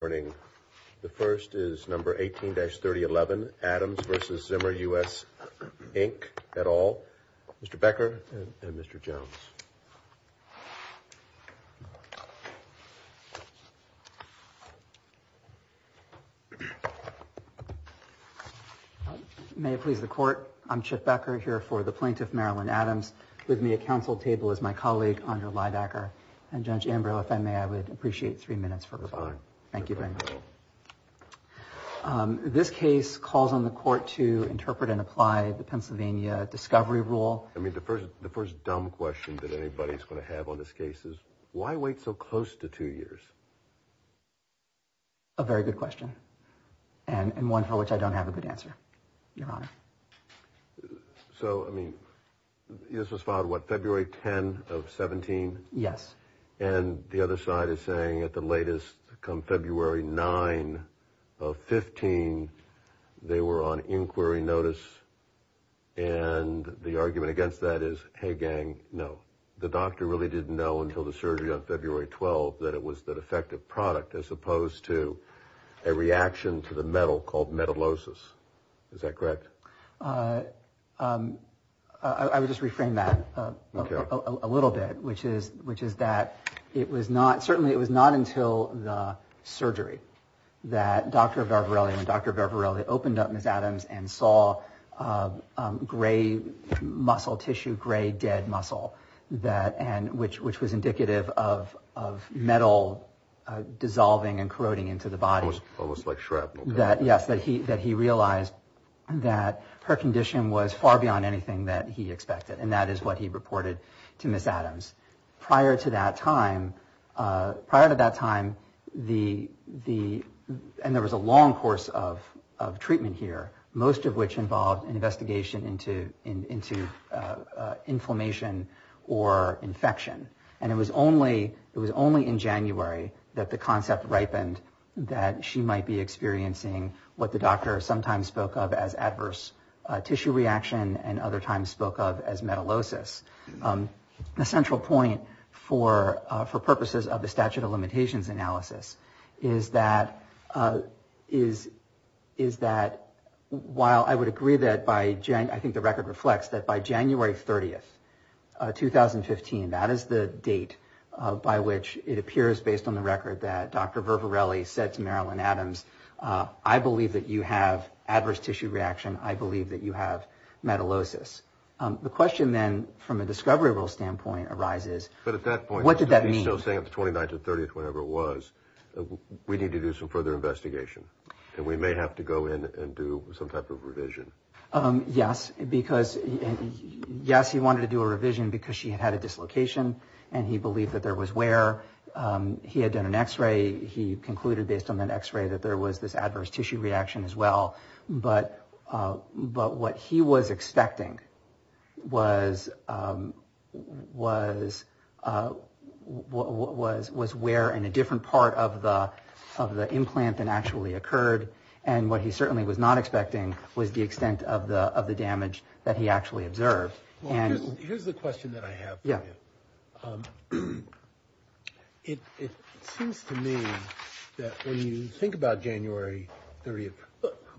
Morning. The first is number 18-3011, Adams v. Zimmer US Inc. et al. Mr. Becker and Mr. Jones. May it please the Court, I'm Chip Becker here for the Plaintiff Marilyn Adams. With me at counsel table is my colleague Andrew Leidacker and Judge Ambrose. If I may, I would appreciate three minutes for rebuttal. Thank you very much. This case calls on the Court to interpret and apply the Pennsylvania discovery rule. I mean the first the first dumb question that anybody's going to have on this case is why wait so close to two years? A very good question and one for which I don't have a good answer, your honor. So I mean this was filed what February 10 of 17? Yes. And the other side is saying at the latest come February 9 of 15, they were on inquiry notice and the argument against that is, hey gang, no. The doctor really didn't know until the surgery on February 12 that it was the defective product as opposed to a reaction to the metal called certainly it was not until the surgery that Dr. Varela and Dr. Varela opened up Ms. Adams and saw gray muscle tissue, gray dead muscle that and which which was indicative of of metal dissolving and corroding into the body. Almost like shrapnel. Yes, that he that he realized that her condition was far beyond anything that he expected and that is what he reported to Ms. Adams. Prior to that time, prior to that time the the and there was a long course of of treatment here, most of which involved an investigation into into inflammation or infection and it was only it was only in January that the concept ripened that she might be experiencing what the doctor sometimes spoke of as adverse tissue reaction and other times spoke of as metalosis. The central point for for purposes of the statute of limitations analysis is that is is that while I would agree that by January, I think the record reflects that by January 30th 2015, that is the date by which it appears based on the record that Dr. Varela said to Marilyn Adams, I believe that you have adverse tissue reaction. I believe that you have metalosis. The question then from a discovery rule standpoint arises. But at that point, what did that mean? So saying at the 29th or 30th, whenever it was, we need to do some further investigation and we may have to go in and do some type of revision. Yes, because yes, he wanted to do a revision because she had had a dislocation and he believed that there was wear. He had done an x-ray. He concluded based on an x-ray that there was this adverse tissue reaction as well. But but what he was expecting was was was was wear in a different part of the of the implant than actually occurred. And what he certainly was not expecting was the extent of the of the damage that he actually observed. And here's the question that I have. Yeah. It seems to me that when you think about January 30th,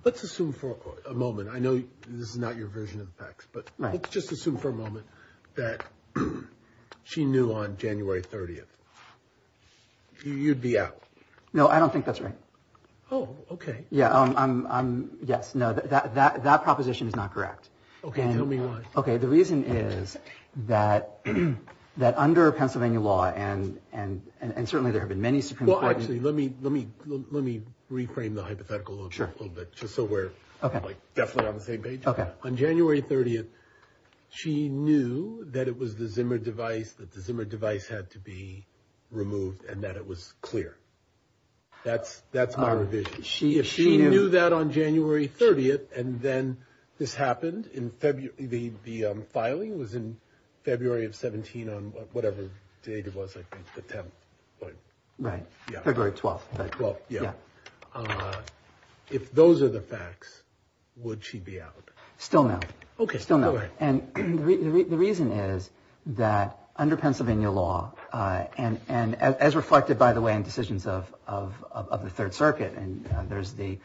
let's assume for a moment, I know this is not your version of the facts, but let's just assume for a moment that she knew on January 30th you'd be out. No, I don't think that's right. Oh, OK. Yeah. Yes. No, that that that proposition is not correct. OK. OK. The reason is that that under Pennsylvania law and and and certainly there have been many. Well, actually, let me let me let me reframe the hypothetical a little bit, just so we're definitely on the same page. OK. On January 30th, she knew that it was the Zimmer device that the Zimmer device had to be removed and that it was clear. That's that's my revision. She if she knew that on January 30th and then this happened in February, the filing was in February of 17 on whatever date it was, I think the 10th. Right. Yeah. February 12th. Well, yeah. If those are the facts, would she be out? Still no. OK. Still no. And the reason is that under Pennsylvania law and and as reflected, by the way, in decisions of of of the Third Circuit and there's the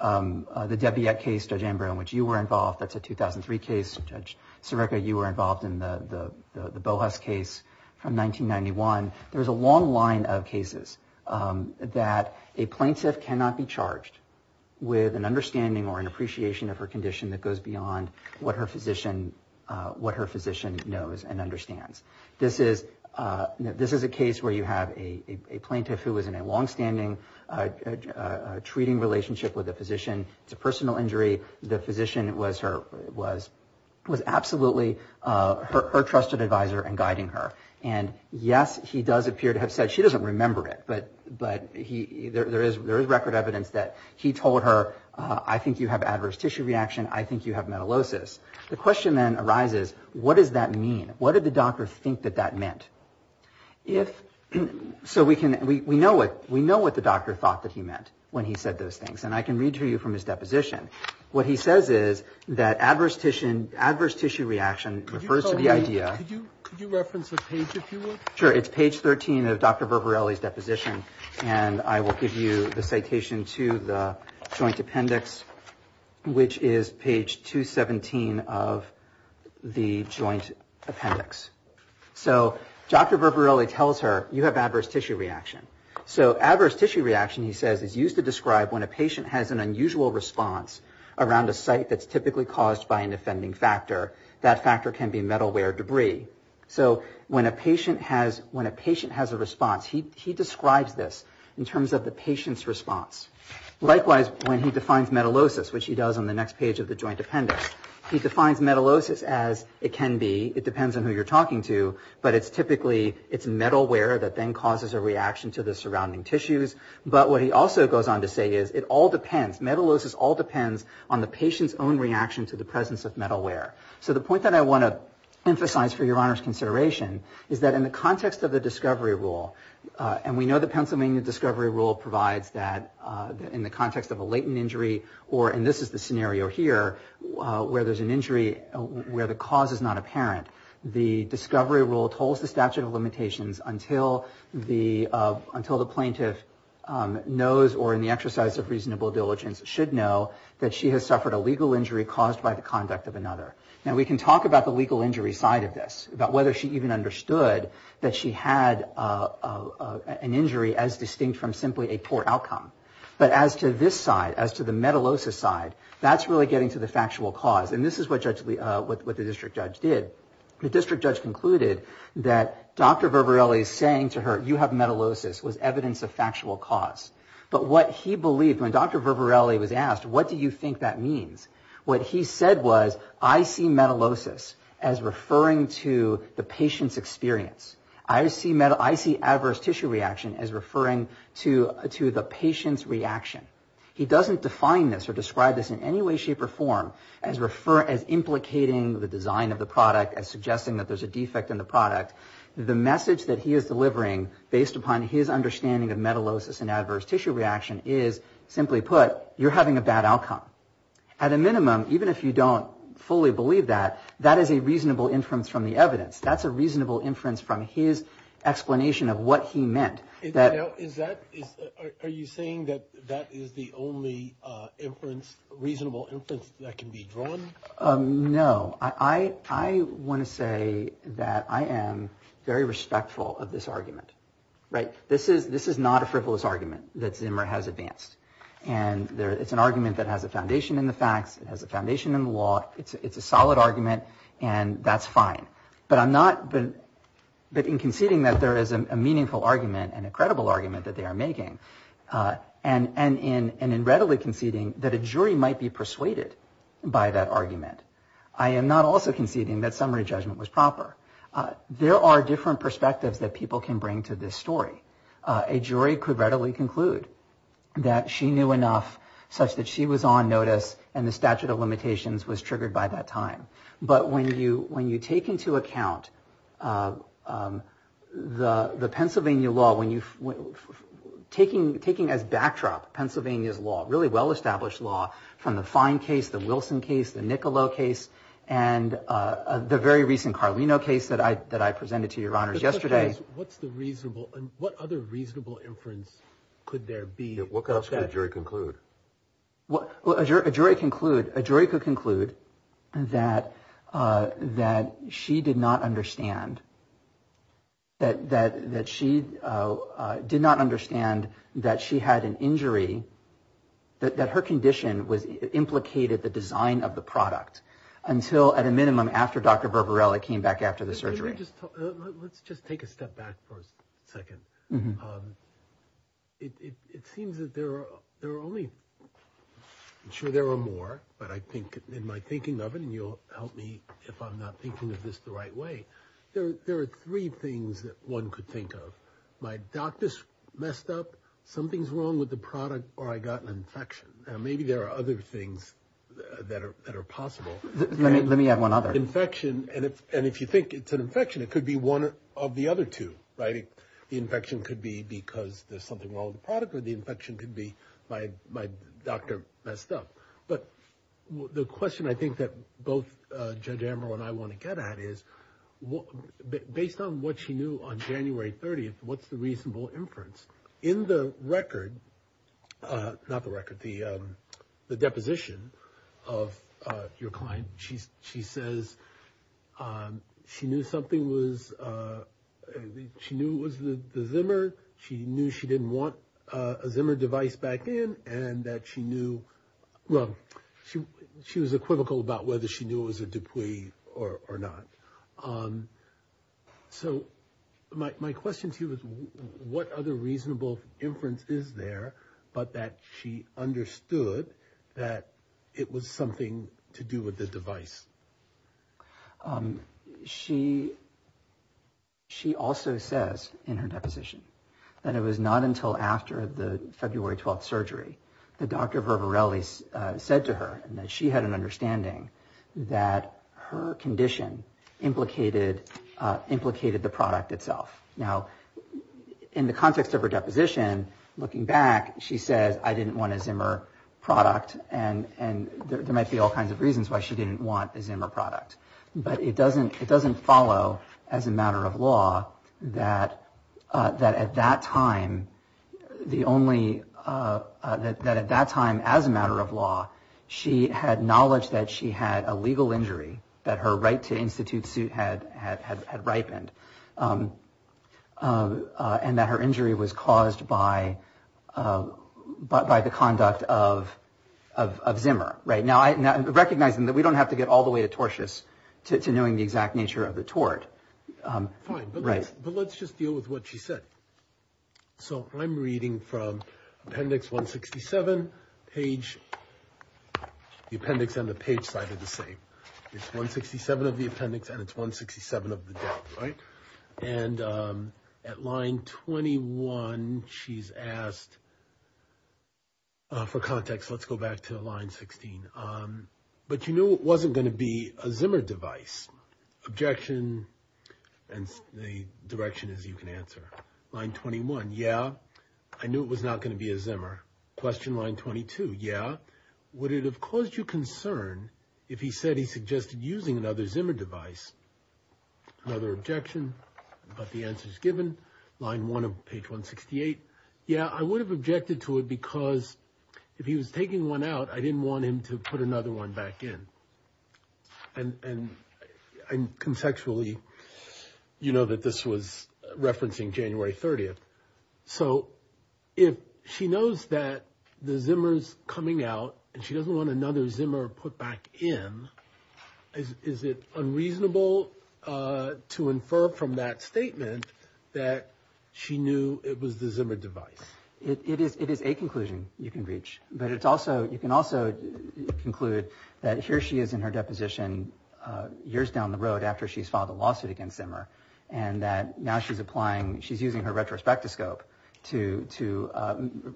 the Debbie case, Judge Amber, in which you were involved. That's a 2003 case. Judge Sirica, you were involved in the Boas case from 1991. There's a long line of cases that a plaintiff cannot be charged with an understanding or an appreciation of her condition that goes beyond what her physician what her physician knows and understands. This is this is a case where you have a plaintiff who is in a longstanding treating relationship with a physician. It's a personal injury. The physician was her was was absolutely her trusted advisor and guiding her. And yes, he does appear to have said she doesn't remember it. But but he there is there is record that he told her, I think you have adverse tissue reaction. I think you have metalosis. The question then arises, what does that mean? What did the doctor think that that meant? If so, we can we know what we know what the doctor thought that he meant when he said those things. And I can read to you from his deposition. What he says is that adverse tissue adverse tissue reaction refers to the idea. Could you reference the page, if you will? Sure. It's page 13 of Dr. And I will give you the citation to the Joint Appendix, which is page 217 of the Joint Appendix. So Dr. Berberilli tells her you have adverse tissue reaction. So adverse tissue reaction, he says, is used to describe when a patient has an unusual response around a site that's typically caused by an offending factor. That factor can be metalware debris. So when a patient has when a patient has a response, he describes this in terms of the patient's response. Likewise, when he defines metalosis, which he does on the next page of the Joint Appendix, he defines metalosis as it can be. It depends on who you're talking to. But it's typically it's metalware that then causes a reaction to the surrounding tissues. But what he also goes on to say is it all depends. Metalosis all depends on the patient's own reaction to the presence of metalware. So the point that I want to emphasize for your honor's consideration is that in the context of the discovery rule, and we know the Pennsylvania discovery rule provides that in the context of a latent injury or, and this is the scenario here, where there's an injury where the cause is not apparent, the discovery rule holds the statute of limitations until the until the plaintiff knows or in the exercise of reasonable diligence should know that she has suffered a legal injury caused by the conduct of another. Now, we can talk about the legal injury side of this, about whether she even understood that she had an injury as distinct from simply a poor outcome. But as to this side, as to the metalosis side, that's really getting to the factual cause. And this is what the district judge did. The district judge concluded that Dr. Vervarelli's saying to her, you have metalosis, was evidence of factual cause. But what he believed, when Dr. Vervarelli was asked, what do you think that means? What he said was, I see metalosis as referring to the patient's experience. I see adverse tissue reaction as referring to the patient's reaction. He doesn't define this or describe this in any way, shape, or form as implicating the design of the product, as suggesting that there's a defect in the product. The message that he is delivering, based upon his understanding of even if you don't fully believe that, that is a reasonable inference from the evidence. That's a reasonable inference from his explanation of what he meant. Are you saying that that is the only inference, reasonable inference, that can be drawn? No. I want to say that I am very respectful of this argument. This is not a frivolous argument that Zimmer has advanced. It's an argument that has a foundation in the facts. It has a foundation in the law. It's a solid argument, and that's fine. But in conceding that there is a meaningful argument and a credible argument that they are making, and in readily conceding that a jury might be persuaded by that argument, I am not also conceding that summary judgment was proper. There are different perspectives that people can bring to this story. A jury could conclude that she knew enough such that she was on notice, and the statute of limitations was triggered by that time. But when you take into account the Pennsylvania law, taking as backdrop Pennsylvania's law, really well-established law, from the Fine case, the Wilson case, the Niccolo case, and the very recent Carlino case that I presented to your honors yesterday. What's the reasonable and what other reasonable inference could there be? What else could a jury conclude? A jury could conclude that she did not understand that she had an injury, that her condition implicated the design of the product until, at a minimum, after Dr. Gershman's death. It seems that there are only, I'm sure there are more, but in my thinking of it, and you'll help me if I'm not thinking of this the right way, there are three things that one could think of. My doctor's messed up, something's wrong with the product, or I got an infection. Now, maybe there are other things that are possible. Let me add one other. And if you think it's an infection, it could be one of the other two, right? The infection could be because there's something wrong with the product, or the infection could be my doctor messed up. But the question I think that both Judge Amber and I want to get at is, based on what she knew on January 30th, what's the reasonable inference? In the record, not the record, the deposition of your client, she says she knew something was, she knew it was the Zimmer, she knew she didn't want a Zimmer device back in, and that she knew, well, she was equivocal about whether she knew it was a Dupuis or not. Um, so my question to you is, what other reasonable inference is there, but that she understood that it was something to do with the device? She, she also says in her deposition that it was not until after the February 12th surgery that Dr. Vervarelli said to her that she had an understanding that her condition implicated, implicated the product itself. Now, in the context of her deposition, looking back, she says, I didn't want a Zimmer product, and there might be all kinds of reasons why she didn't want a Zimmer product. But it doesn't, it doesn't follow as a matter of law that at that time, the only, that at that time, as a matter of law, she had knowledge that she had a legal injury, that her right to institute suit had, had, had ripened. And that her injury was caused by, by the conduct of, of Zimmer, right? Now, recognizing that we don't have to get all the way to tortious to knowing the exact nature of the tort. Fine, but let's just deal with what she said. So I'm reading from appendix 167, page, the appendix and the page side are the same. It's 167 of the appendix and it's 167 of the date, right? And at line 21, she's asked for context. Let's go back to line 16. But you knew it wasn't going to be a Zimmer device. Objection, and the direction is you can answer. Line 21, yeah, I knew it was not going to be a Zimmer. Question line 22, yeah, would it have caused you concern if he said he suggested using another Zimmer device? Another objection, but the answer is given. Line one of page 168, yeah, I would have objected to it because if he was taking one out, I didn't want him to put another one back in. And I'm conceptually, you know, that this was referencing January 30th. So if she knows that the Zimmer's coming out and she doesn't want another Zimmer put back in, is it unreasonable to infer from that statement that she knew it was the Zimmer device? It is a conclusion you can reach, but it's also, you can also conclude that here she is in her deposition years down the road after she's filed a lawsuit against Zimmer and that now she's applying, she's using her retrospectoscope to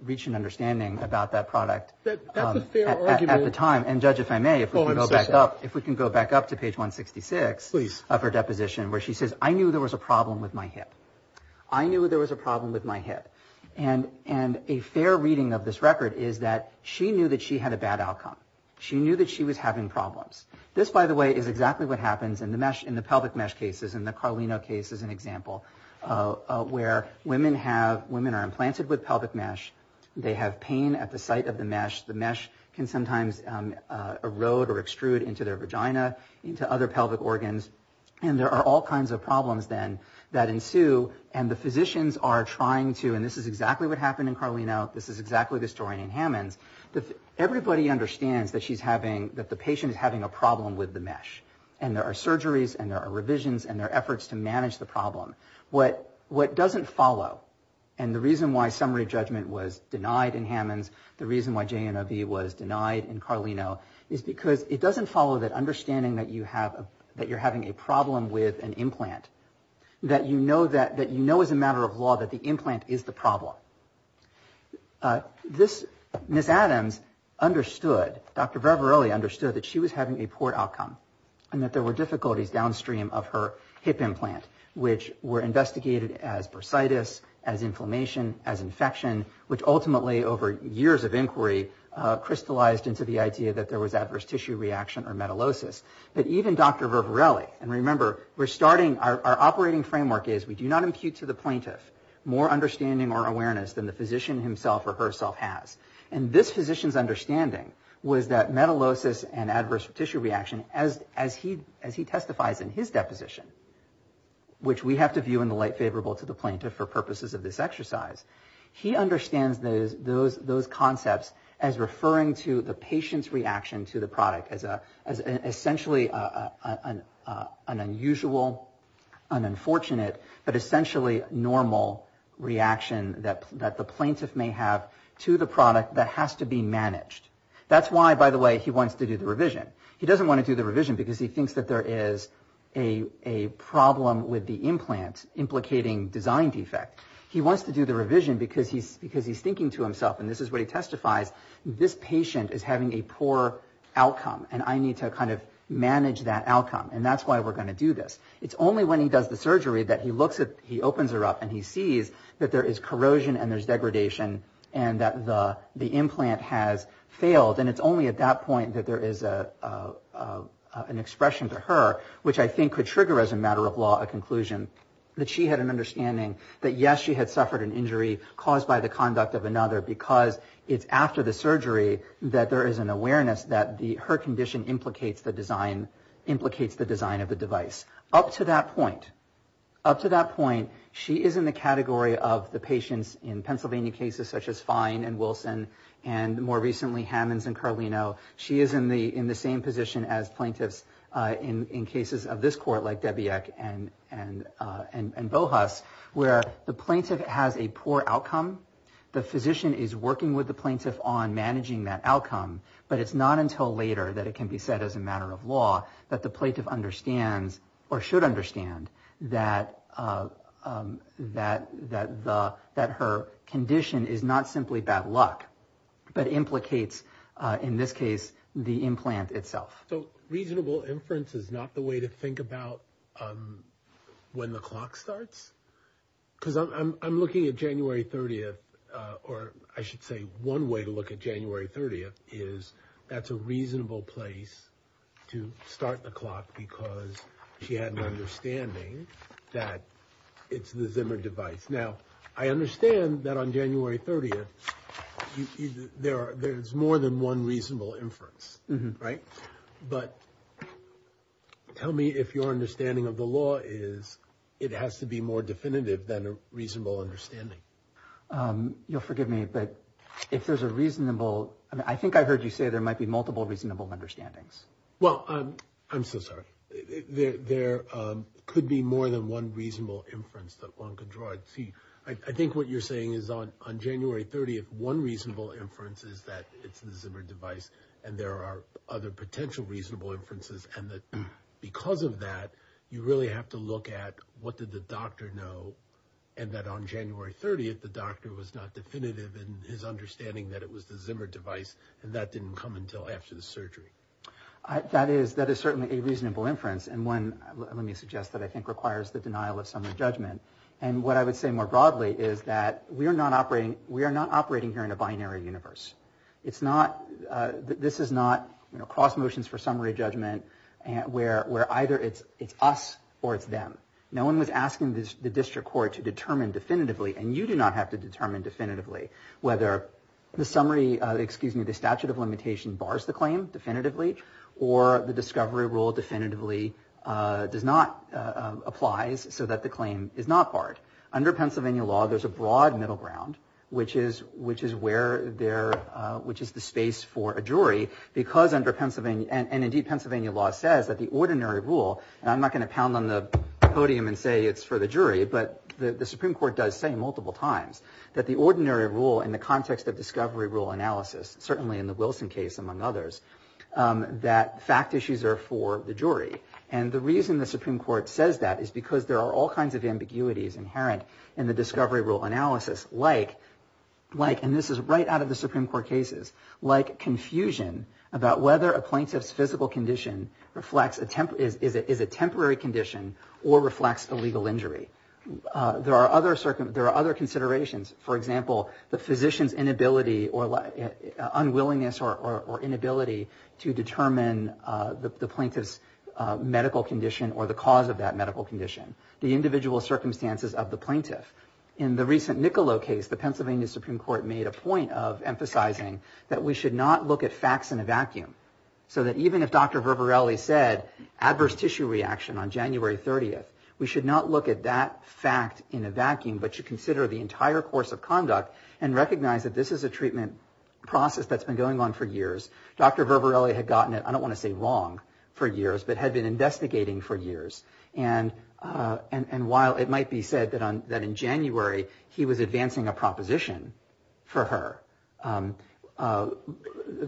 reach an understanding about that product at the time. And Judge, if I may, if we can go back up to page 166 of her deposition where she says, I knew there was a problem with my hip. I knew there was a problem with my hip. And a fair reading of this record is that she knew that she had a bad outcome. She knew that she was having problems. This, by the way, is exactly what happens in the pelvic mesh cases. In the Carlino case is an example where women are implanted with pelvic mesh. They have pain at the site of the mesh. The mesh can sometimes erode or extrude into their vagina, into other pelvic organs. And there are all kinds of problems then that ensue. And the physicians are trying to, and this is exactly what happened in Carlino. This is exactly the story in Hammonds. Everybody understands that the patient is having a problem with the mesh. And there are surgeries and there are revisions and there are efforts to manage the problem. What doesn't follow, and the reason why summary judgment was denied in Hammonds, the reason why JNIV was denied in Carlino is because it doesn't follow that understanding that you're having a problem with an implant, that you know as a matter of law that the implant is the problem. This, Ms. Adams understood, Dr. Vervarelli understood that she was having a poor outcome and that there were difficulties downstream of her hip implant, which were investigated as bursitis, as inflammation, as infection, which ultimately over years of inquiry crystallized into the idea that there was adverse tissue reaction or metallosis. But even Dr. Vervarelli, and remember, we're starting, our operating framework is we do not impute to the plaintiff more understanding or awareness than the physician himself or herself has. And this physician's understanding was that metallosis and adverse tissue reaction, as he testifies in his deposition, which we have to view in the light favorable to the plaintiff for purposes of this exercise, he understands those concepts as referring to the patient's an unusual, an unfortunate, but essentially normal reaction that the plaintiff may have to the product that has to be managed. That's why, by the way, he wants to do the revision. He doesn't want to do the revision because he thinks that there is a problem with the implant implicating design defect. He wants to do the revision because he's thinking to himself, and this is what he testifies, this patient is having a poor outcome, and I need to kind of manage that outcome. And that's why we're going to do this. It's only when he does the surgery that he looks at, he opens her up, and he sees that there is corrosion and there's degradation and that the implant has failed. And it's only at that point that there is an expression to her, which I think could trigger as a matter of law a conclusion that she had an understanding that, yes, she had surgery that there is an awareness that her condition implicates the design of the device. Up to that point, up to that point, she is in the category of the patients in Pennsylvania cases such as Fine and Wilson and, more recently, Hammonds and Carlino. She is in the same position as plaintiffs in cases of this court, like Debiek and Bohus, where the plaintiff has a poor outcome. The physician is working with the plaintiff on managing that outcome, but it's not until later that it can be said as a matter of law that the plaintiff understands, or should understand, that her condition is not simply bad luck, but implicates, in this case, the implant itself. So reasonable inference is not the way to think about when the clock starts? Because I'm looking at January 30th, or I should say one way to look at January 30th is that's a reasonable place to start the clock because she had an understanding that it's the Zimmer device. Now, I understand that on January 30th, there's more than one reasonable inference, right? But tell me if your understanding of the law is it has to be more definitive than a reasonable understanding. You'll forgive me, but if there's a reasonable, I mean, I think I heard you say there might be multiple reasonable understandings. Well, I'm so sorry. There could be more than one reasonable inference that one could draw. I think what you're saying is on January 30th, one reasonable inference is that it's potential reasonable inferences, and that because of that, you really have to look at what did the doctor know, and that on January 30th, the doctor was not definitive in his understanding that it was the Zimmer device, and that didn't come until after the surgery. That is certainly a reasonable inference, and one, let me suggest, that I think requires the denial of some of the judgment. And what I would say more broadly is that we are not operating here in a binary universe. It's not, this is not, you know, cross motions for summary judgment where either it's us or it's them. No one was asking the district court to determine definitively, and you do not have to determine definitively whether the summary, excuse me, the statute of limitation bars the claim definitively or the discovery rule definitively does not, applies so that the claim is not barred. Under Pennsylvania law, there's a broad middle ground, which is where there, which is the space for a jury because under Pennsylvania, and indeed Pennsylvania law says that the ordinary rule, and I'm not going to pound on the podium and say it's for the jury, but the Supreme Court does say multiple times that the ordinary rule in the context of discovery rule analysis, certainly in the Wilson case among others, that fact issues are for the jury. And the reason the Supreme Court says that is because there are all kinds of ambiguities inherent in the discovery rule analysis, like, and this is right out of the Supreme Court cases, like confusion about whether a plaintiff's physical condition is a temporary condition or reflects a legal injury. There are other considerations. For example, the physician's inability or unwillingness or inability to determine the plaintiff's medical condition or the cause of that medical condition. The individual circumstances of the plaintiff. In the recent Niccolo case, the Pennsylvania Supreme Court made a point of emphasizing that we should not look at facts in a vacuum, so that even if Dr. Vervarelli said adverse tissue reaction on January 30th, we should not look at that fact in a vacuum, but should consider the entire course of conduct and recognize that this is a treatment process that's been going on for years. Dr. Vervarelli had gotten it, I don't want to say wrong, for years, but had been investigating for years. And while it might be said that in January, he was advancing a proposition for her,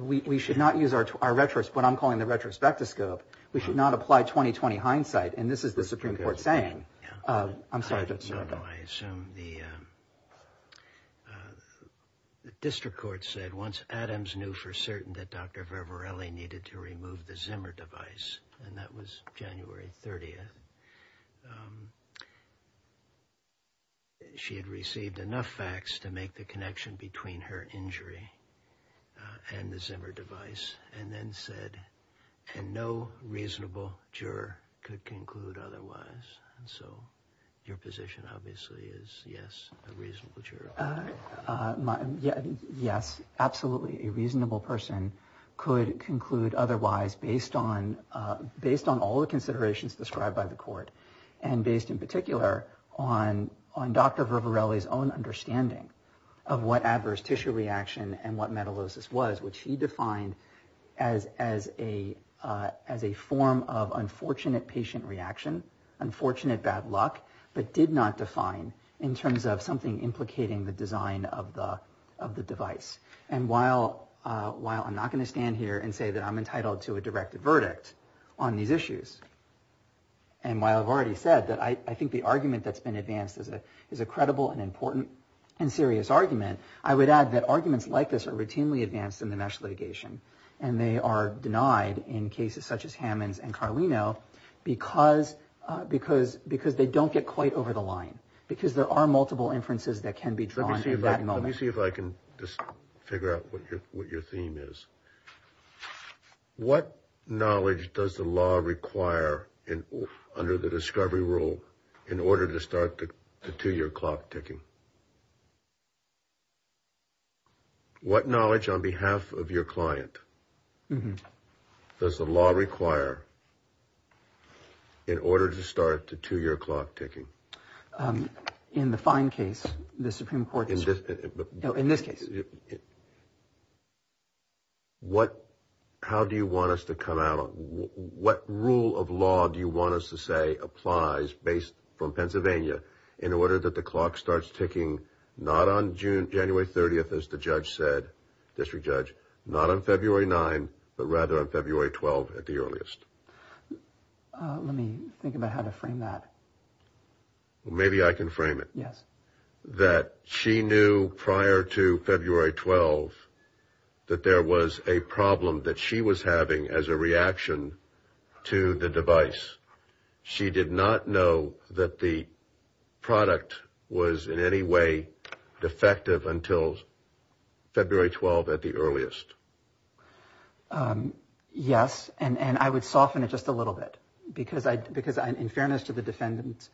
we should not use our, what I'm calling the retrospective scope, we should not apply 20-20 hindsight. And this is the Supreme Court saying, I'm sorry. No, no, I assume the district court said once Adams knew for certain that Dr. Vervarelli needed to remove the Zimmer device, and that was January 30th, she had received enough facts to make the connection between her injury and the Zimmer device, and then said, and no reasonable juror could conclude otherwise. And so your position obviously is, yes, a reasonable juror. Yes, absolutely, a reasonable person could conclude otherwise based on all the considerations described by the court, and based in particular on Dr. Vervarelli's own understanding of what adverse tissue reaction and what metallosis was, which he defined as a form of unfortunate patient reaction, unfortunate bad luck, but did not define in terms of something implicating the design of the device. And while I'm not going to stand here and say that I'm entitled to a directed verdict on these issues, and while I've already said that I think the argument that's been advanced is a credible and important and serious argument, I would add that arguments like this are routinely advanced in the national litigation, and they are denied in cases such as Hammond's and Carlino because they don't get quite over the line, because there are Let me see if I can just figure out what your theme is. What knowledge does the law require under the discovery rule in order to start the two-year clock ticking? What knowledge on behalf of your client does the law require in order to start the two-year clock ticking? In the fine case, the Supreme Court. In this case. How do you want us to come out? What rule of law do you want us to say applies based from Pennsylvania in order that the clock starts ticking not on January 30th, as the judge said, District Judge, not on February 9th, but rather on February 12th at the earliest? Let me think about how to frame that. Well, maybe I can frame it. Yes. That she knew prior to February 12th that there was a problem that she was having as a reaction to the device. She did not know that the product was in any way defective until February 12th at the earliest. Yes, and I would soften it just a little bit, because in fairness to the defendant,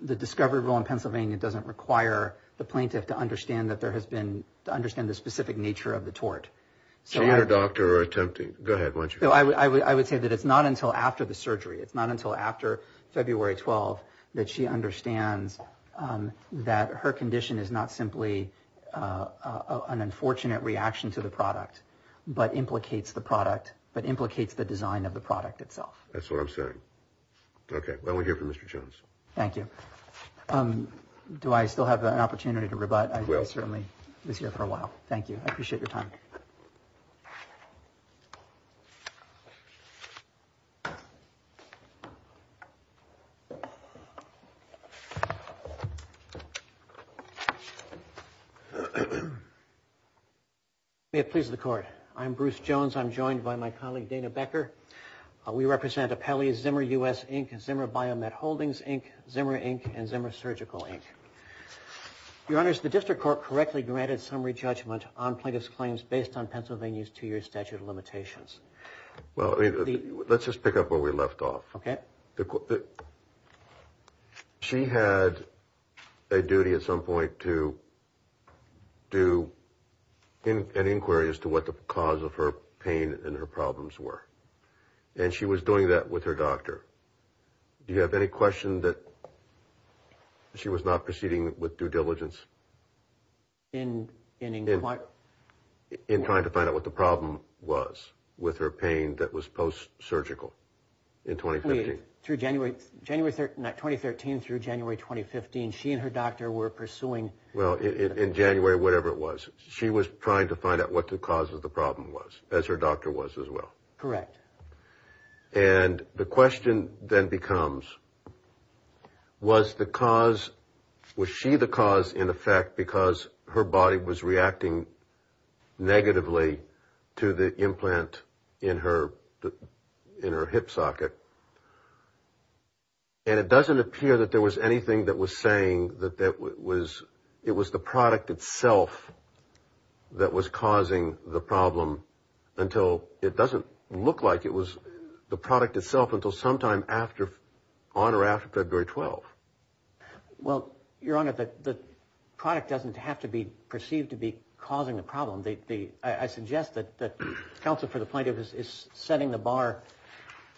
the discovery rule in Pennsylvania doesn't require the plaintiff to understand that there has been, to understand the specific nature of the tort. So you're a doctor attempting, go ahead, why don't you. I would say that it's not until after the surgery. It's not until after February 12th that she understands that her condition is not simply an unfortunate reaction to the product. But implicates the product, but implicates the design of the product itself. That's what I'm saying. Okay. Well, we're here for Mr. Jones. Thank you. Do I still have an opportunity to rebut? I certainly was here for a while. Thank you. I appreciate your time. May it please the court. I'm Bruce Jones. I'm joined by my colleague, Dana Becker. We represent Appellee Zimmer U.S. Inc., Zimmer Biomed Holdings Inc., Zimmer Inc., and Zimmer Surgical Inc. Your honors, the district court correctly granted summary judgment on plaintiff's based on Pennsylvania's two-year statute of limitations. Well, let's just pick up where we left off. Okay. She had a duty at some point to do an inquiry as to what the cause of her pain and her problems were. And she was doing that with her doctor. Do you have any question that she was not proceeding with due diligence? In inquiring? In trying to find out what the problem was with her pain that was post-surgical in 2015. Through January, January 2013 through January 2015, she and her doctor were pursuing. Well, in January, whatever it was, she was trying to find out what the cause of the problem was, as her doctor was as well. Correct. And the question then becomes, was the cause, was she the cause in effect because her body was reacting negatively to the implant in her hip socket? And it doesn't appear that there was anything that was saying that that was, it was the product itself until sometime after, on or after February 12. Well, Your Honor, the product doesn't have to be perceived to be causing the problem. I suggest that counsel for the plaintiff is setting the bar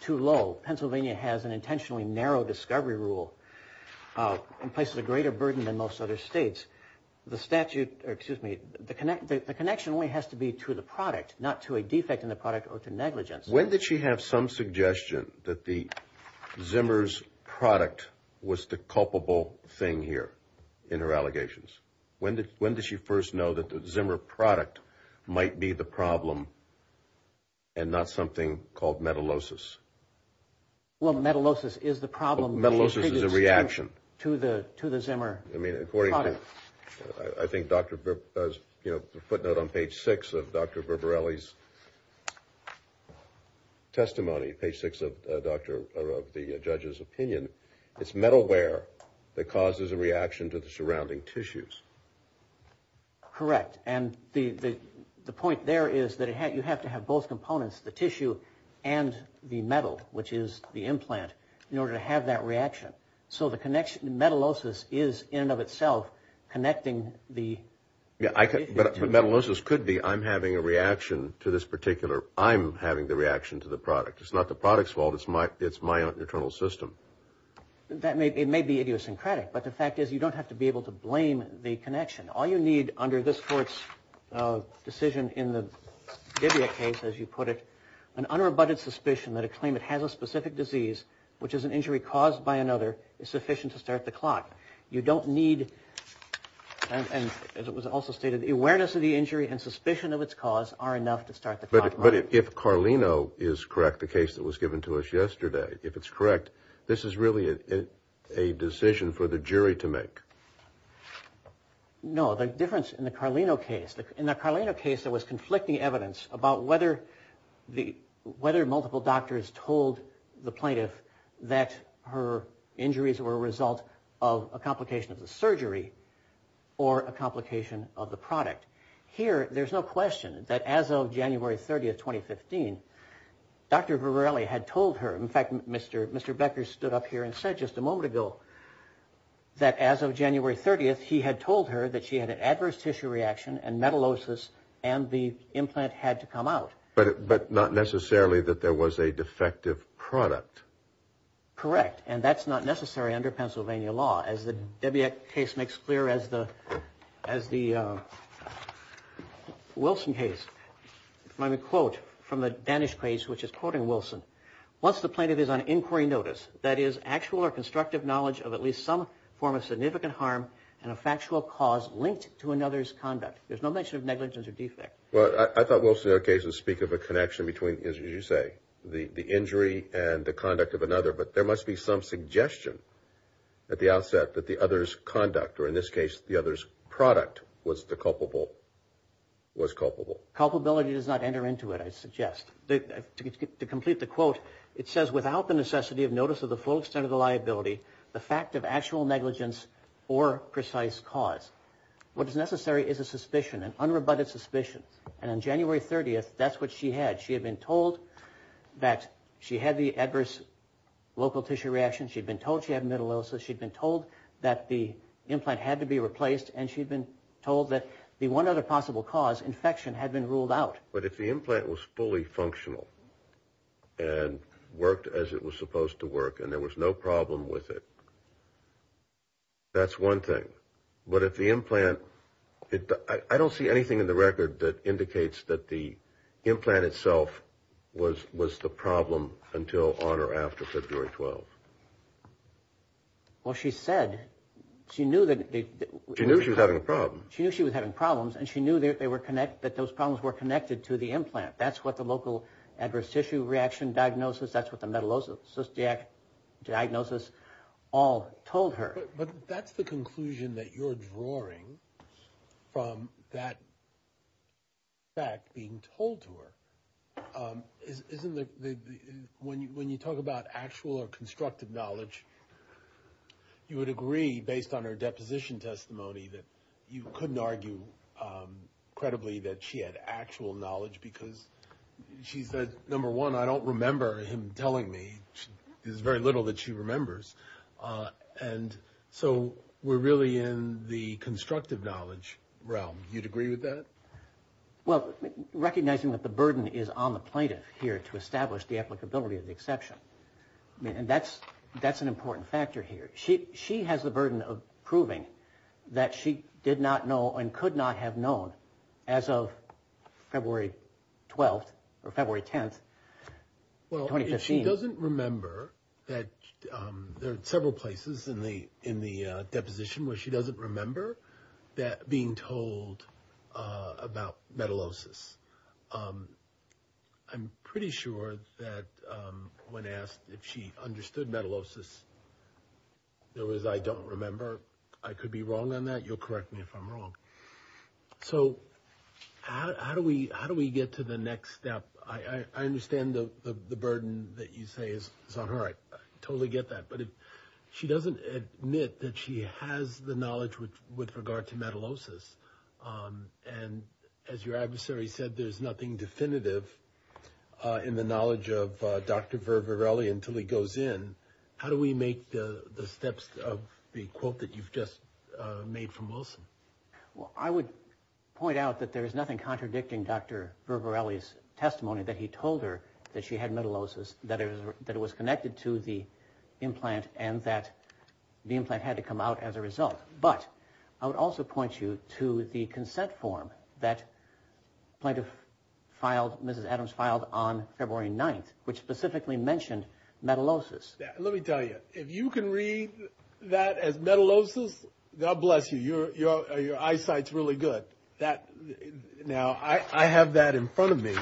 too low. Pennsylvania has an intentionally narrow discovery rule and places a greater burden than most other states. The statute, excuse me, the connection only has to be to the product, not to a defect in the product or to negligence. When did she have some suggestion that the Zimmer's product was the culpable thing here in her allegations? When did, when did she first know that the Zimmer product might be the problem and not something called metalosis? Well, metalosis is the problem. Metalosis is a reaction. To the, to the Zimmer product. I mean, according to, I think Dr. Brip does, you know, the footnote on page six of Dr. Testimony, page six of Dr., of the judge's opinion, it's metalware that causes a reaction to the surrounding tissues. Correct. And the, the, the point there is that it had, you have to have both components, the tissue and the metal, which is the implant in order to have that reaction. So the connection, metalosis is in and of itself connecting the. Yeah, I could, but metalosis could be, I'm having a reaction to this particular, I'm having the reaction to the product. It's not the product's fault. It's my, it's my own internal system. That may, it may be idiosyncratic, but the fact is you don't have to be able to blame the connection. All you need under this court's decision in the Divya case, as you put it, an unrebutted suspicion that a claimant has a specific disease, which is an injury caused by another, is sufficient to start the clock. You don't need, and as it was also stated, awareness of the injury and suspicion of its cause are enough to start the clock. But if Carlino is correct, the case that was given to us yesterday, if it's correct, this is really a decision for the jury to make. No, the difference in the Carlino case, in the Carlino case, there was conflicting evidence about whether the, whether multiple doctors told the plaintiff that her injuries were a result of a complication of the surgery or a complication of the product. Here, there's no question that as of January 30th, 2015, Dr. Varelli had told her, in fact, Mr. Becker stood up here and said just a moment ago that as of January 30th, he had told her that she had an adverse tissue reaction and metallosis and the implant had to come out. But not necessarily that there was a defective product. Correct, and that's not necessary under Pennsylvania law, as the Debye case makes clear as the, as the Wilson case. If I may quote from the Danish case, which is quoting Wilson, once the plaintiff is on inquiry notice, that is actual or constructive knowledge of at least some form of significant harm and a factual cause linked to another's conduct. There's no mention of negligence or defect. Well, I thought Wilson's case would speak of a connection between, as you say, the injury and the conduct of another. But there must be some suggestion at the outset that the other's conduct, or in this case, the other's product was the culpable, was culpable. Culpability does not enter into it, I suggest. To complete the quote, it says, without the necessity of notice of the full extent of the liability, the fact of actual negligence or precise cause. What is necessary is a suspicion, an unrebutted suspicion. And on January 30th, that's what she had. She had been told that she had the adverse local tissue reaction. She'd been told she had metallosis. She'd been told that the implant had to be replaced. And she'd been told that the one other possible cause, infection, had been ruled out. But if the implant was fully functional and worked as it was supposed to work and there was no problem with it, that's one thing. But if the implant, I don't see anything in the record that indicates that the implant itself was the problem until on or after February 12th. Well, she said, she knew that... She knew she was having a problem. She knew she was having problems, and she knew that those problems were connected to the implant. That's what the local adverse tissue reaction diagnosis, that's what the metallosis diagnosis all told her. But that's the conclusion that you're drawing from that fact being told to her. When you talk about actual or constructive knowledge, you would agree, based on her deposition testimony, that you couldn't argue credibly that she had actual knowledge because she said, number one, I don't remember him telling me. There's very little that she remembers. And so we're really in the constructive knowledge realm. You'd agree with that? Well, recognizing that the burden is on the plaintiff here to establish the applicability of the exception. And that's an important factor here. She has the burden of proving that she did not know and could not have known as of February 12th or February 10th, 2015. She doesn't remember that there are several places in the deposition where she doesn't remember being told about metallosis. I'm pretty sure that when asked if she understood metallosis, there was, I don't remember. I could be wrong on that. You'll correct me if I'm wrong. So how do we get to the next step? I understand the burden that you say is on her. I totally get that. But if she doesn't admit that she has the knowledge with regard to metallosis, and as your adversary said, there's nothing definitive in the knowledge of Dr. Vervarelli until he goes in. How do we make the steps of the quote that you've just made from Wilson? Well, I would point out that there is nothing contradicting Dr. Vervarelli's testimony that he told her that she had metallosis, that it was connected to the implant and that the implant had to come out as a result. But I would also point you to the consent form that plaintiff filed, Mrs. Adams filed on February 9th, which specifically mentioned metallosis. Let me tell you, if you can read that as metallosis, God bless you, your eyesight's really good. Now, I have that in front of me.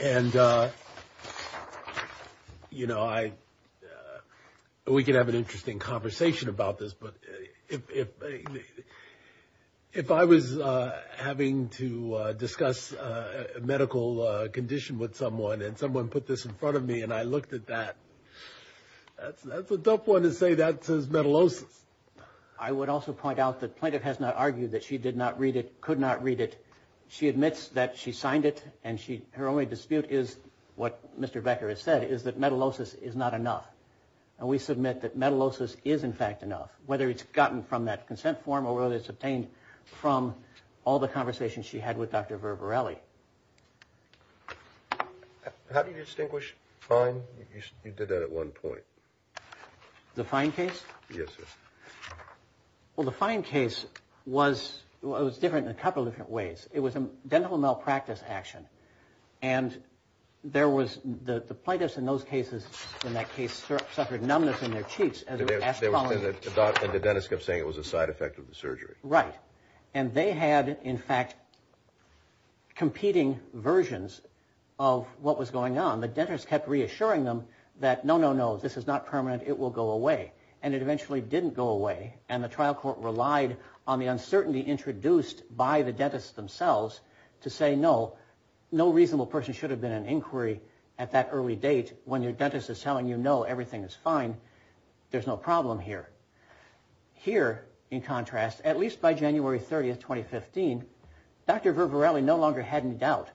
And, you know, we could have an interesting conversation about this. But if I was having to discuss a medical condition with someone and someone put this in front of me and I looked at that, that's a tough one to say that says metallosis. I would also point out that plaintiff has not argued that she did not read it, could not read it. She admits that she signed it and her only dispute is what Mr. Becker has said, is that metallosis is not enough. And we submit that metallosis is in fact enough, whether it's gotten from that consent form or whether it's obtained from all the conversations she had with Dr. Vervarelli. How do you distinguish fine? You did that at one point. The fine case? Yes, sir. Well, the fine case was, it was different in a couple of different ways. It was a dental malpractice action. And there was, the plaintiffs in those cases, in that case, suffered numbness in their cheeks. And the dentist kept saying it was a side effect of the surgery. Right. And they had, in fact, competing versions of what was going on. The dentist kept reassuring them that, no, no, no, this is not permanent, it will go away. And it eventually didn't go away. And the trial court relied on the uncertainty introduced by the dentists themselves to say, no, no reasonable person should have been in inquiry at that early date when your dentist is telling you, no, everything is fine. There's no problem here. Here, in contrast, at least by January 30th, 2015, Dr. Ververelli no longer had any doubt.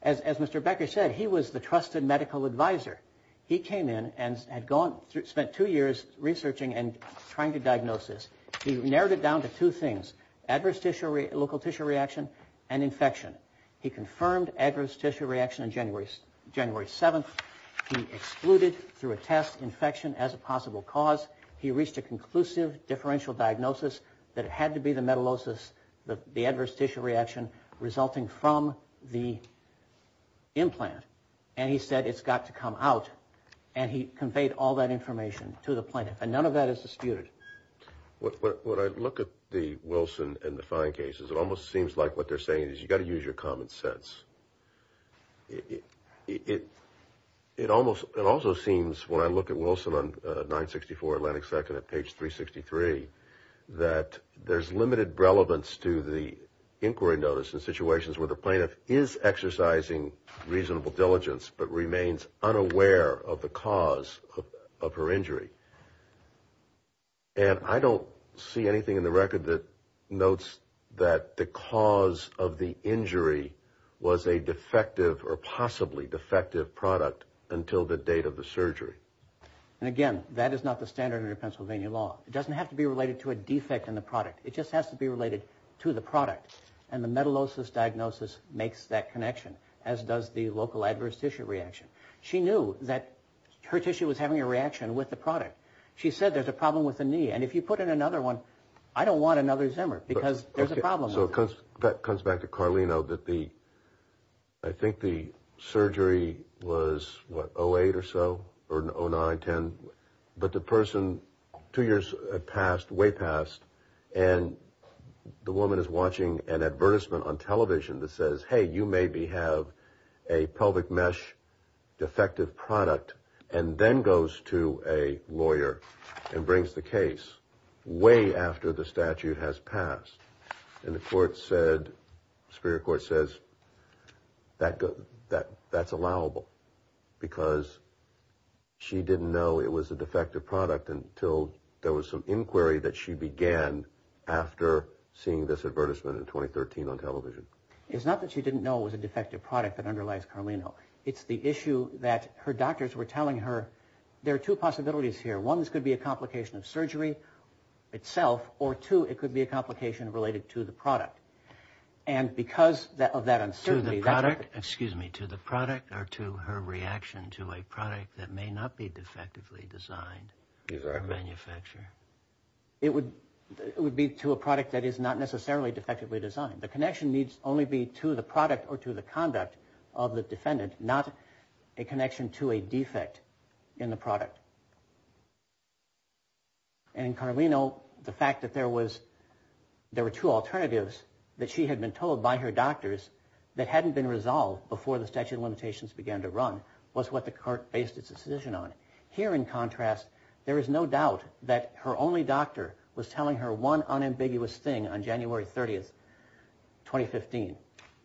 As Mr. Becker said, he was the trusted medical advisor. He came in and had gone, spent two years researching and trying to diagnose this. He narrowed it down to two things, adverse local tissue reaction and infection. He confirmed adverse tissue reaction on January 7th. He excluded through a test infection as a possible cause. He reached a conclusive differential diagnosis that it had to be the metallosis, the adverse tissue reaction, resulting from the implant. And he said, it's got to come out. And he conveyed all that information to the plaintiff. And none of that is disputed. When I look at the Wilson and the Fine cases, it almost seems like what they're saying is you got to use your common sense. It almost, it also seems when I look at Wilson on 964 Atlantic 2nd at page 363, that there's limited relevance to the inquiry notice in situations where the plaintiff is exercising reasonable diligence but remains unaware of the cause of her injury. And I don't see anything in the record that notes that the cause of the injury was a defective or possibly defective product until the date of the surgery. And again, that is not the standard under Pennsylvania law. It doesn't have to be related to a defect in the product. It just has to be related to the product. And the metallosis diagnosis makes that connection, as does the local adverse tissue reaction. She knew that her tissue was having a reaction with the product. She said, there's a problem with the knee. And if you put in another one, I don't want another Zimmer because there's a problem. So that comes back to Carlino that the, I think the surgery was what, 08 or so or 09, 10. But the person, two years passed, way passed. And the woman is watching an advertisement on television that says, hey, you may have a pelvic mesh defective product. And then goes to a lawyer and brings the case way after the statute has passed. And the court said, Superior Court says that's allowable because she didn't know it was a defective product until there was some inquiry that she began after seeing this advertisement in 2013 on television. It's not that she didn't know it was a defective product that underlies Carlino. It's the issue that her doctors were telling her, there are two possibilities here. One, this could be a complication of surgery itself. Or two, it could be a complication related to the product. And because of that uncertainty. To the product? Excuse me, to the product or to her reaction to a product that may not be defectively designed by a manufacturer? It would be to a product that is not necessarily defectively designed. The connection needs only be to the product or to the conduct of the defendant, not a connection to a defect in the product. And in Carlino, the fact that there was, there were two alternatives that she had been told by her doctors that hadn't been resolved before the statute of limitations began to run was what the court based its decision on. Here in contrast, there is no doubt that her only doctor was telling her one unambiguous thing on January 30th, 2015.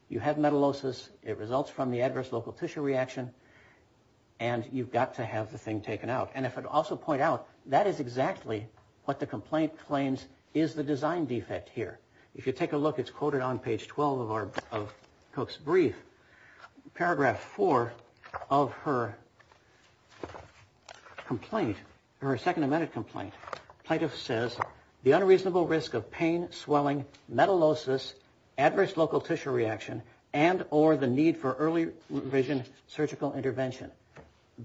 You have metallosis. It results from the adverse local tissue reaction. And you've got to have the thing taken out. And if I'd also point out, that is exactly what the complaint claims is the design defect here. If you take a look, it's quoted on page 12 of our, of Cook's brief. Paragraph four of her complaint, her second amended complaint. Plaintiff says, the unreasonable risk of pain, swelling, metallosis, adverse local tissue reaction, and or the need for early revision surgical intervention.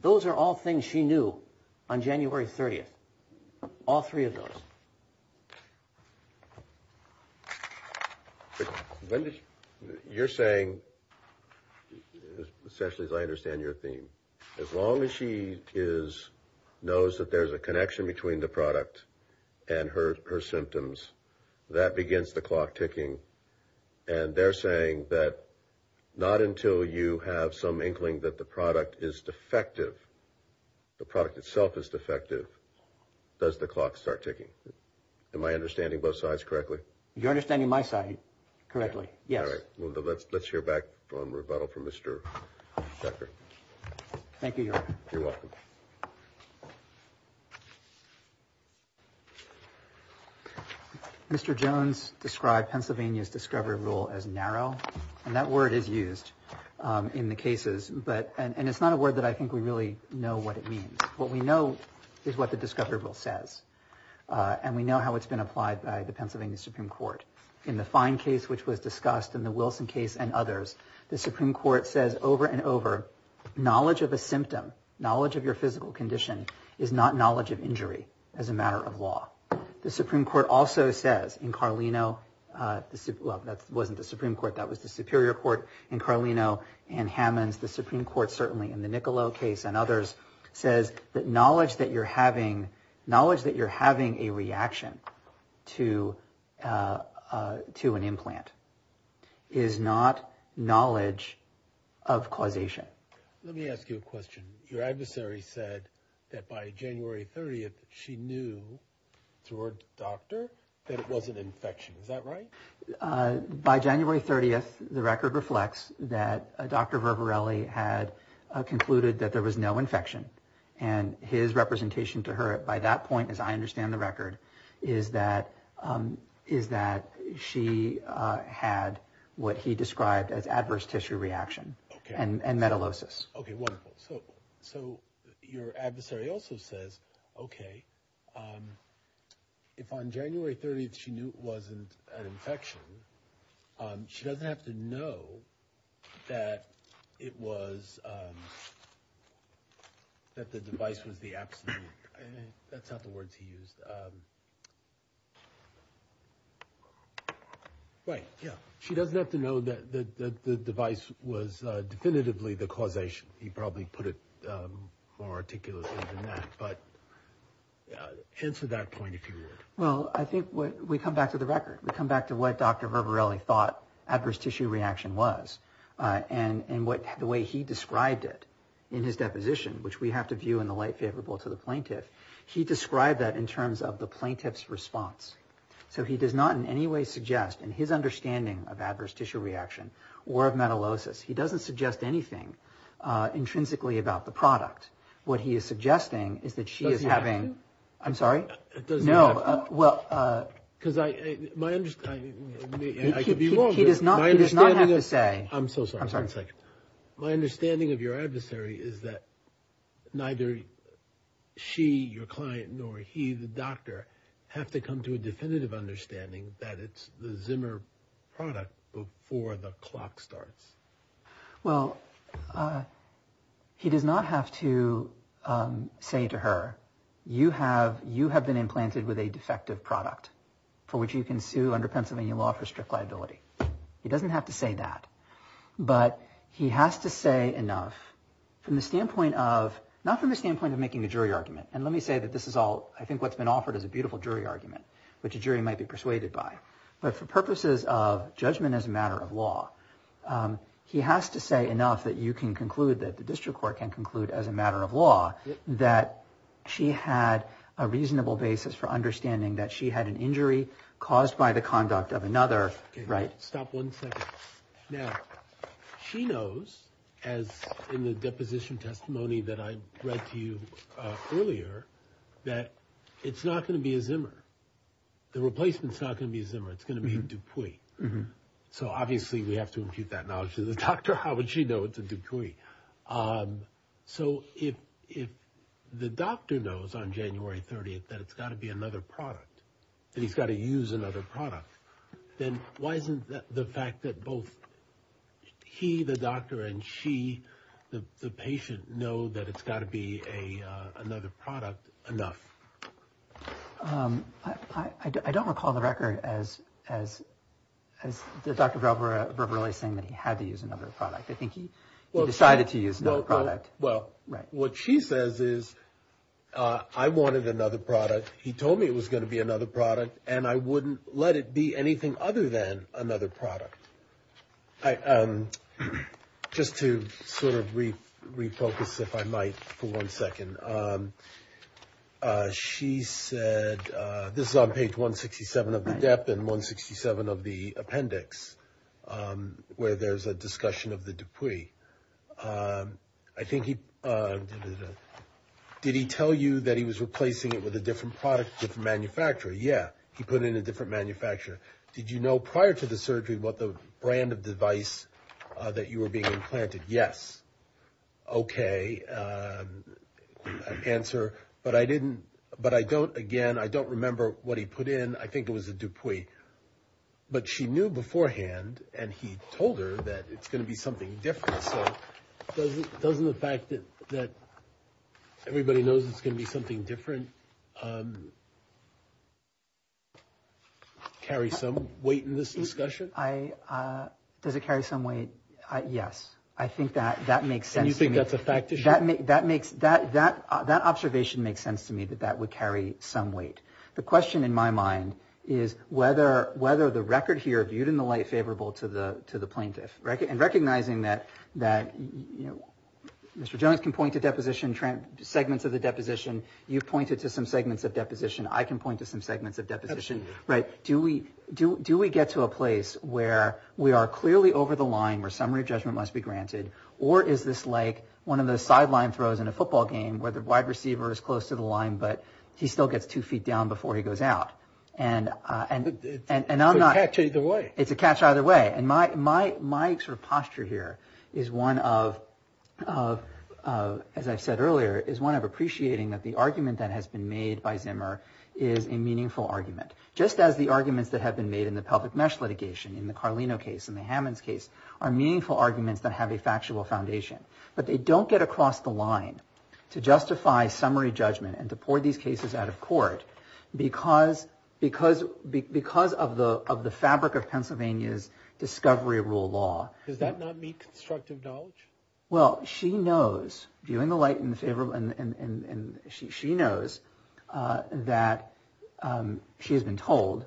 Those are all things she knew on January 30th. All three of those. When did, you're saying, especially as I understand your theme. As long as she is, knows that there's a connection between the product and her, her symptoms, that begins the clock ticking. And they're saying that not until you have some inkling that the product is defective. The product itself is defective. Does the clock start ticking? Am I understanding both sides correctly? You're understanding my side correctly. Yes. Let's hear back from rebuttal from Mr. Decker. Thank you. You're welcome. Mr. Jones described Pennsylvania's discovery rule as narrow. And that word is used in the cases. But, and it's not a word that I think we really know what it means. What we know is what the discovery rule says. And we know how it's been applied by the Pennsylvania Supreme Court. In the fine case, which was discussed in the Wilson case and others, the Supreme Court says over and over, knowledge of a symptom, knowledge of your physical condition is not knowledge of injury as a matter of law. The Supreme Court also says in Carlino, well, that wasn't the Supreme Court, that was the Superior Court in Carlino and Hammonds. The Supreme Court, certainly in the Niccolo case and others, says that knowledge that you're having, knowledge that you're having a reaction to, to an implant is not knowledge of causation. Let me ask you a question. Your adversary said that by January 30th, she knew through her doctor that it wasn't infection. Is that right? By January 30th, the record reflects that Dr. Vervarelli had concluded that there was no infection. And his representation to her by that point, as I understand the record, is that she had what he described as adverse tissue reaction and metallosis. Okay, wonderful. So your adversary also says, okay, if on January 30th, she knew it wasn't an infection, she doesn't have to know that it was, that the device was the absolute, that's not the words he used. Right, yeah. She doesn't have to know that the device was definitively the causation. He probably put it more articulately than that. But answer that point if you would. Well, I think we come back to the record. We come back to what Dr. Vervarelli thought adverse tissue reaction was. And the way he described it in his deposition, which we have to view in the light favorable to the plaintiff, he described that in terms of the plaintiff's response. So he does not in any way suggest, in his understanding of adverse tissue reaction or of metallosis, he doesn't suggest anything intrinsically about the product. What he is suggesting is that she is having... Does he have to? I'm sorry? It doesn't have to. No, well... Because my understanding, and I could be wrong, but my understanding of... He does not have to say... I'm so sorry, one second. My understanding of your adversary is that neither she, your client, nor he, the doctor, have to come to a definitive understanding that it's the Zimmer product before the clock starts. Well, he does not have to say to her, you have been implanted with a defective product for which you can sue under Pennsylvania law for strict liability. He doesn't have to say that. But he has to say enough from the standpoint of... Not from the standpoint of making a jury argument. And let me say that this is all... I think what's been offered is a beautiful jury argument, which a jury might be persuaded by. But for purposes of judgment as a matter of law, he has to say enough that you can conclude, that the district court can conclude as a matter of law, that she had a reasonable basis for understanding that she had an injury caused by the conduct of another, right? Stop one second. Now, she knows, as in the deposition testimony that I read to you earlier, that it's not going to be a Zimmer. The replacement's not going to be a Zimmer. It's going to be a Dupuis. So obviously, we have to impute that knowledge to the doctor. How would she know it's a Dupuis? So if the doctor knows on January 30th that it's got to be another product, that he's got to use another product, then why isn't the fact that both he, the doctor, and she, the patient, know that it's got to be another product enough? I don't recall the record as the doctor verbally saying that he had to use another product. I think he decided to use another product. Well, what she says is, I wanted another product. He told me it was going to be another product. And I wouldn't let it be anything other than another product. Just to sort of refocus, if I might, for one second. She said, this is on page 167 of the DEP and 167 of the appendix, where there's a discussion of the Dupuis. I think he, did he tell you that he was replacing it with a different product, different manufacturer? Yeah, he put in a different manufacturer. Did you know prior to the surgery what the brand of device that you were being implanted? Yes. Okay, answer. But I didn't, but I don't, again, I don't remember what he put in. I think it was a Dupuis. But she knew beforehand, and he told her that it's going to be something different. So doesn't the fact that everybody knows it's going to be something different, carry some weight in this discussion? I, does it carry some weight? Yes. I think that that makes sense. And you think that's a fact issue? That makes, that observation makes sense to me, that that would carry some weight. The question in my mind is whether the record here, viewed in the light favorable to the plaintiff, and recognizing that Mr. Jones can point to deposition, segments of the deposition. You've pointed to some segments of deposition. I can point to some segments of deposition, right? Do we get to a place where we are clearly over the line, where summary of judgment must be granted? Or is this like one of those sideline throws in a football game where the wide receiver is close to the line, but he still gets two feet down before he goes out. And I'm not... It's a catch either way. It's a catch either way. And my sort of posture here is one of, as I've said earlier, is one of appreciating that the argument that has been made by Zimmer is a meaningful argument. Just as the arguments that have been made in the Pelvic Mesh litigation, in the Carlino case, in the Hammonds case, are meaningful arguments that have a factual foundation. But they don't get across the line to justify summary judgment and to pour these cases out of court because of the fabric of Pennsylvania's discovery rule law. Does that not meet constructive knowledge? Well, she knows, viewing the light in favor of... And she knows that she has been told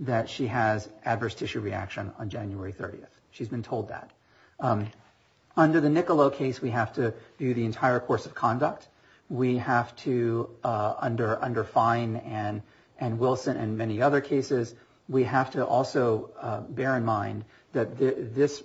that she has adverse tissue reaction on January 30th. She's been told that. Under the Niccolo case, we have to view the entire course of conduct. We have to, under Fine and Wilson and many other cases, we have to also bear in mind that this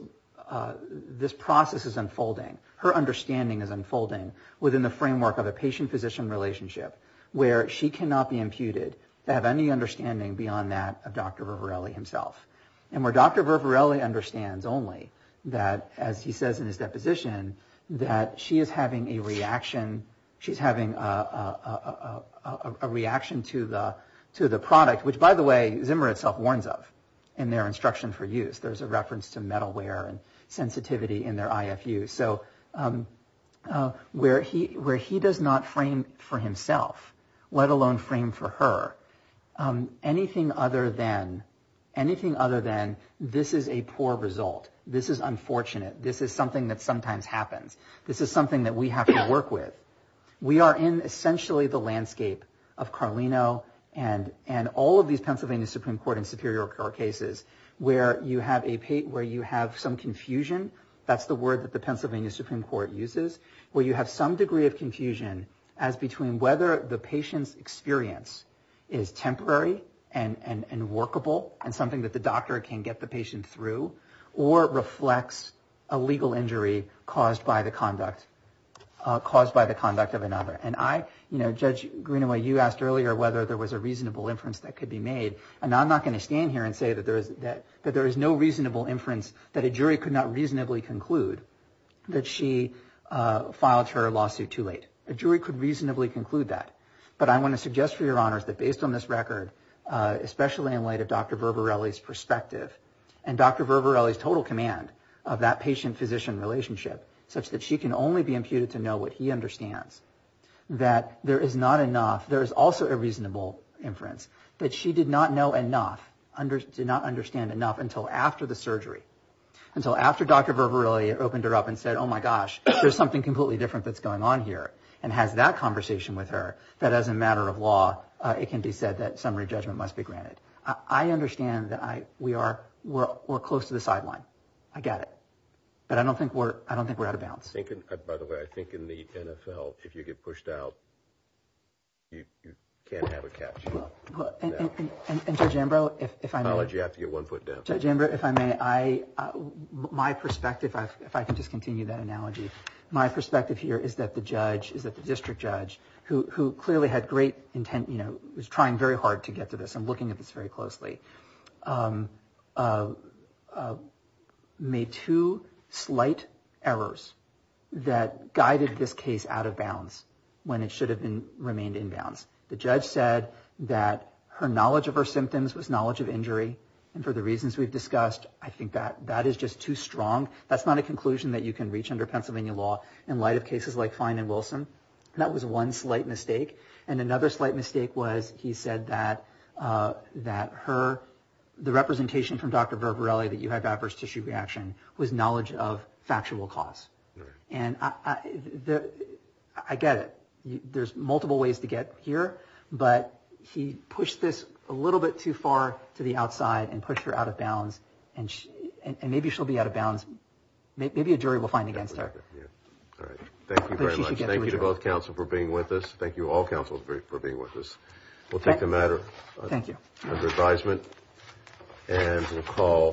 process is unfolding. Her understanding is unfolding within the framework of a patient-physician relationship, where she cannot be imputed to have any understanding beyond that of Dr. Ververelli himself. And where Dr. Ververelli understands only that, as he says in his deposition, that she is having a reaction to the product, which, by the way, Zimmer itself warns of in their instruction for use. There's a reference to metalware and sensitivity in their IFU. So where he does not frame for himself, let alone frame for her, anything other than this is a poor result, this is unfortunate, this is something that sometimes happens, this is something that we have to work with. We are in essentially the landscape of Carlino and all of these Pennsylvania Supreme Court and Superior Court cases where you have some confusion, that's the word that the Pennsylvania Supreme Court uses, where you have some degree of confusion as between whether the patient's experience is temporary and workable and something that the doctor can get the patient through, or reflects a legal injury caused by the conduct of another. And Judge Greenaway, you asked earlier whether there was a reasonable inference that could be made, and I'm not going to stand here and say that there is no reasonable inference that a jury could not reasonably conclude that she filed her lawsuit too late. A jury could reasonably conclude that, but I want to suggest for your honors that based on this record, especially in light of Dr. Verbarelli's perspective and Dr. Verbarelli's total command of that patient-physician relationship such that she can only be imputed to know what he understands, that there is not enough, there is also a reasonable inference that she did not know enough, did not understand enough until after the surgery, until after Dr. Verbarelli opened her up and said, oh my gosh, there's something completely different that's going on here, and has that conversation with her, that as a matter of law, it can be said that summary judgment must be granted. I understand that we're close to the sideline. I get it. But I don't think we're out of bounds. By the way, I think in the NFL, if you get pushed out, you can't have a catch. And Judge Ambrose, if I may... I apologize, you have to get one foot down. Judge Ambrose, if I may, my perspective, if I can just continue that analogy, my perspective here is that the judge, is that the district judge, who clearly had great intent, you know, was trying very hard to get to this, and looking at this very closely, made two slight errors that guided this case out of bounds when it should have remained in bounds. The judge said that her knowledge of her symptoms was knowledge of injury, and for the reasons we've discussed, I think that that is just too strong. That's not a conclusion that you can reach under Pennsylvania law in light of cases like Fine and Wilson. That was one slight mistake. And another slight mistake was, he said that her, the representation from Dr. Verbarelli that you had vaporous tissue reaction, was knowledge of factual cause. And I get it. There's multiple ways to get here, but he pushed this a little bit too far to the outside, and pushed her out of bounds, and maybe she'll be out of bounds. Maybe a jury will find against her. All right. Thank you very much. Thank you to both counsel for being with us. Thank you all counsel for being with us. We'll take the matter under advisement, and we'll call.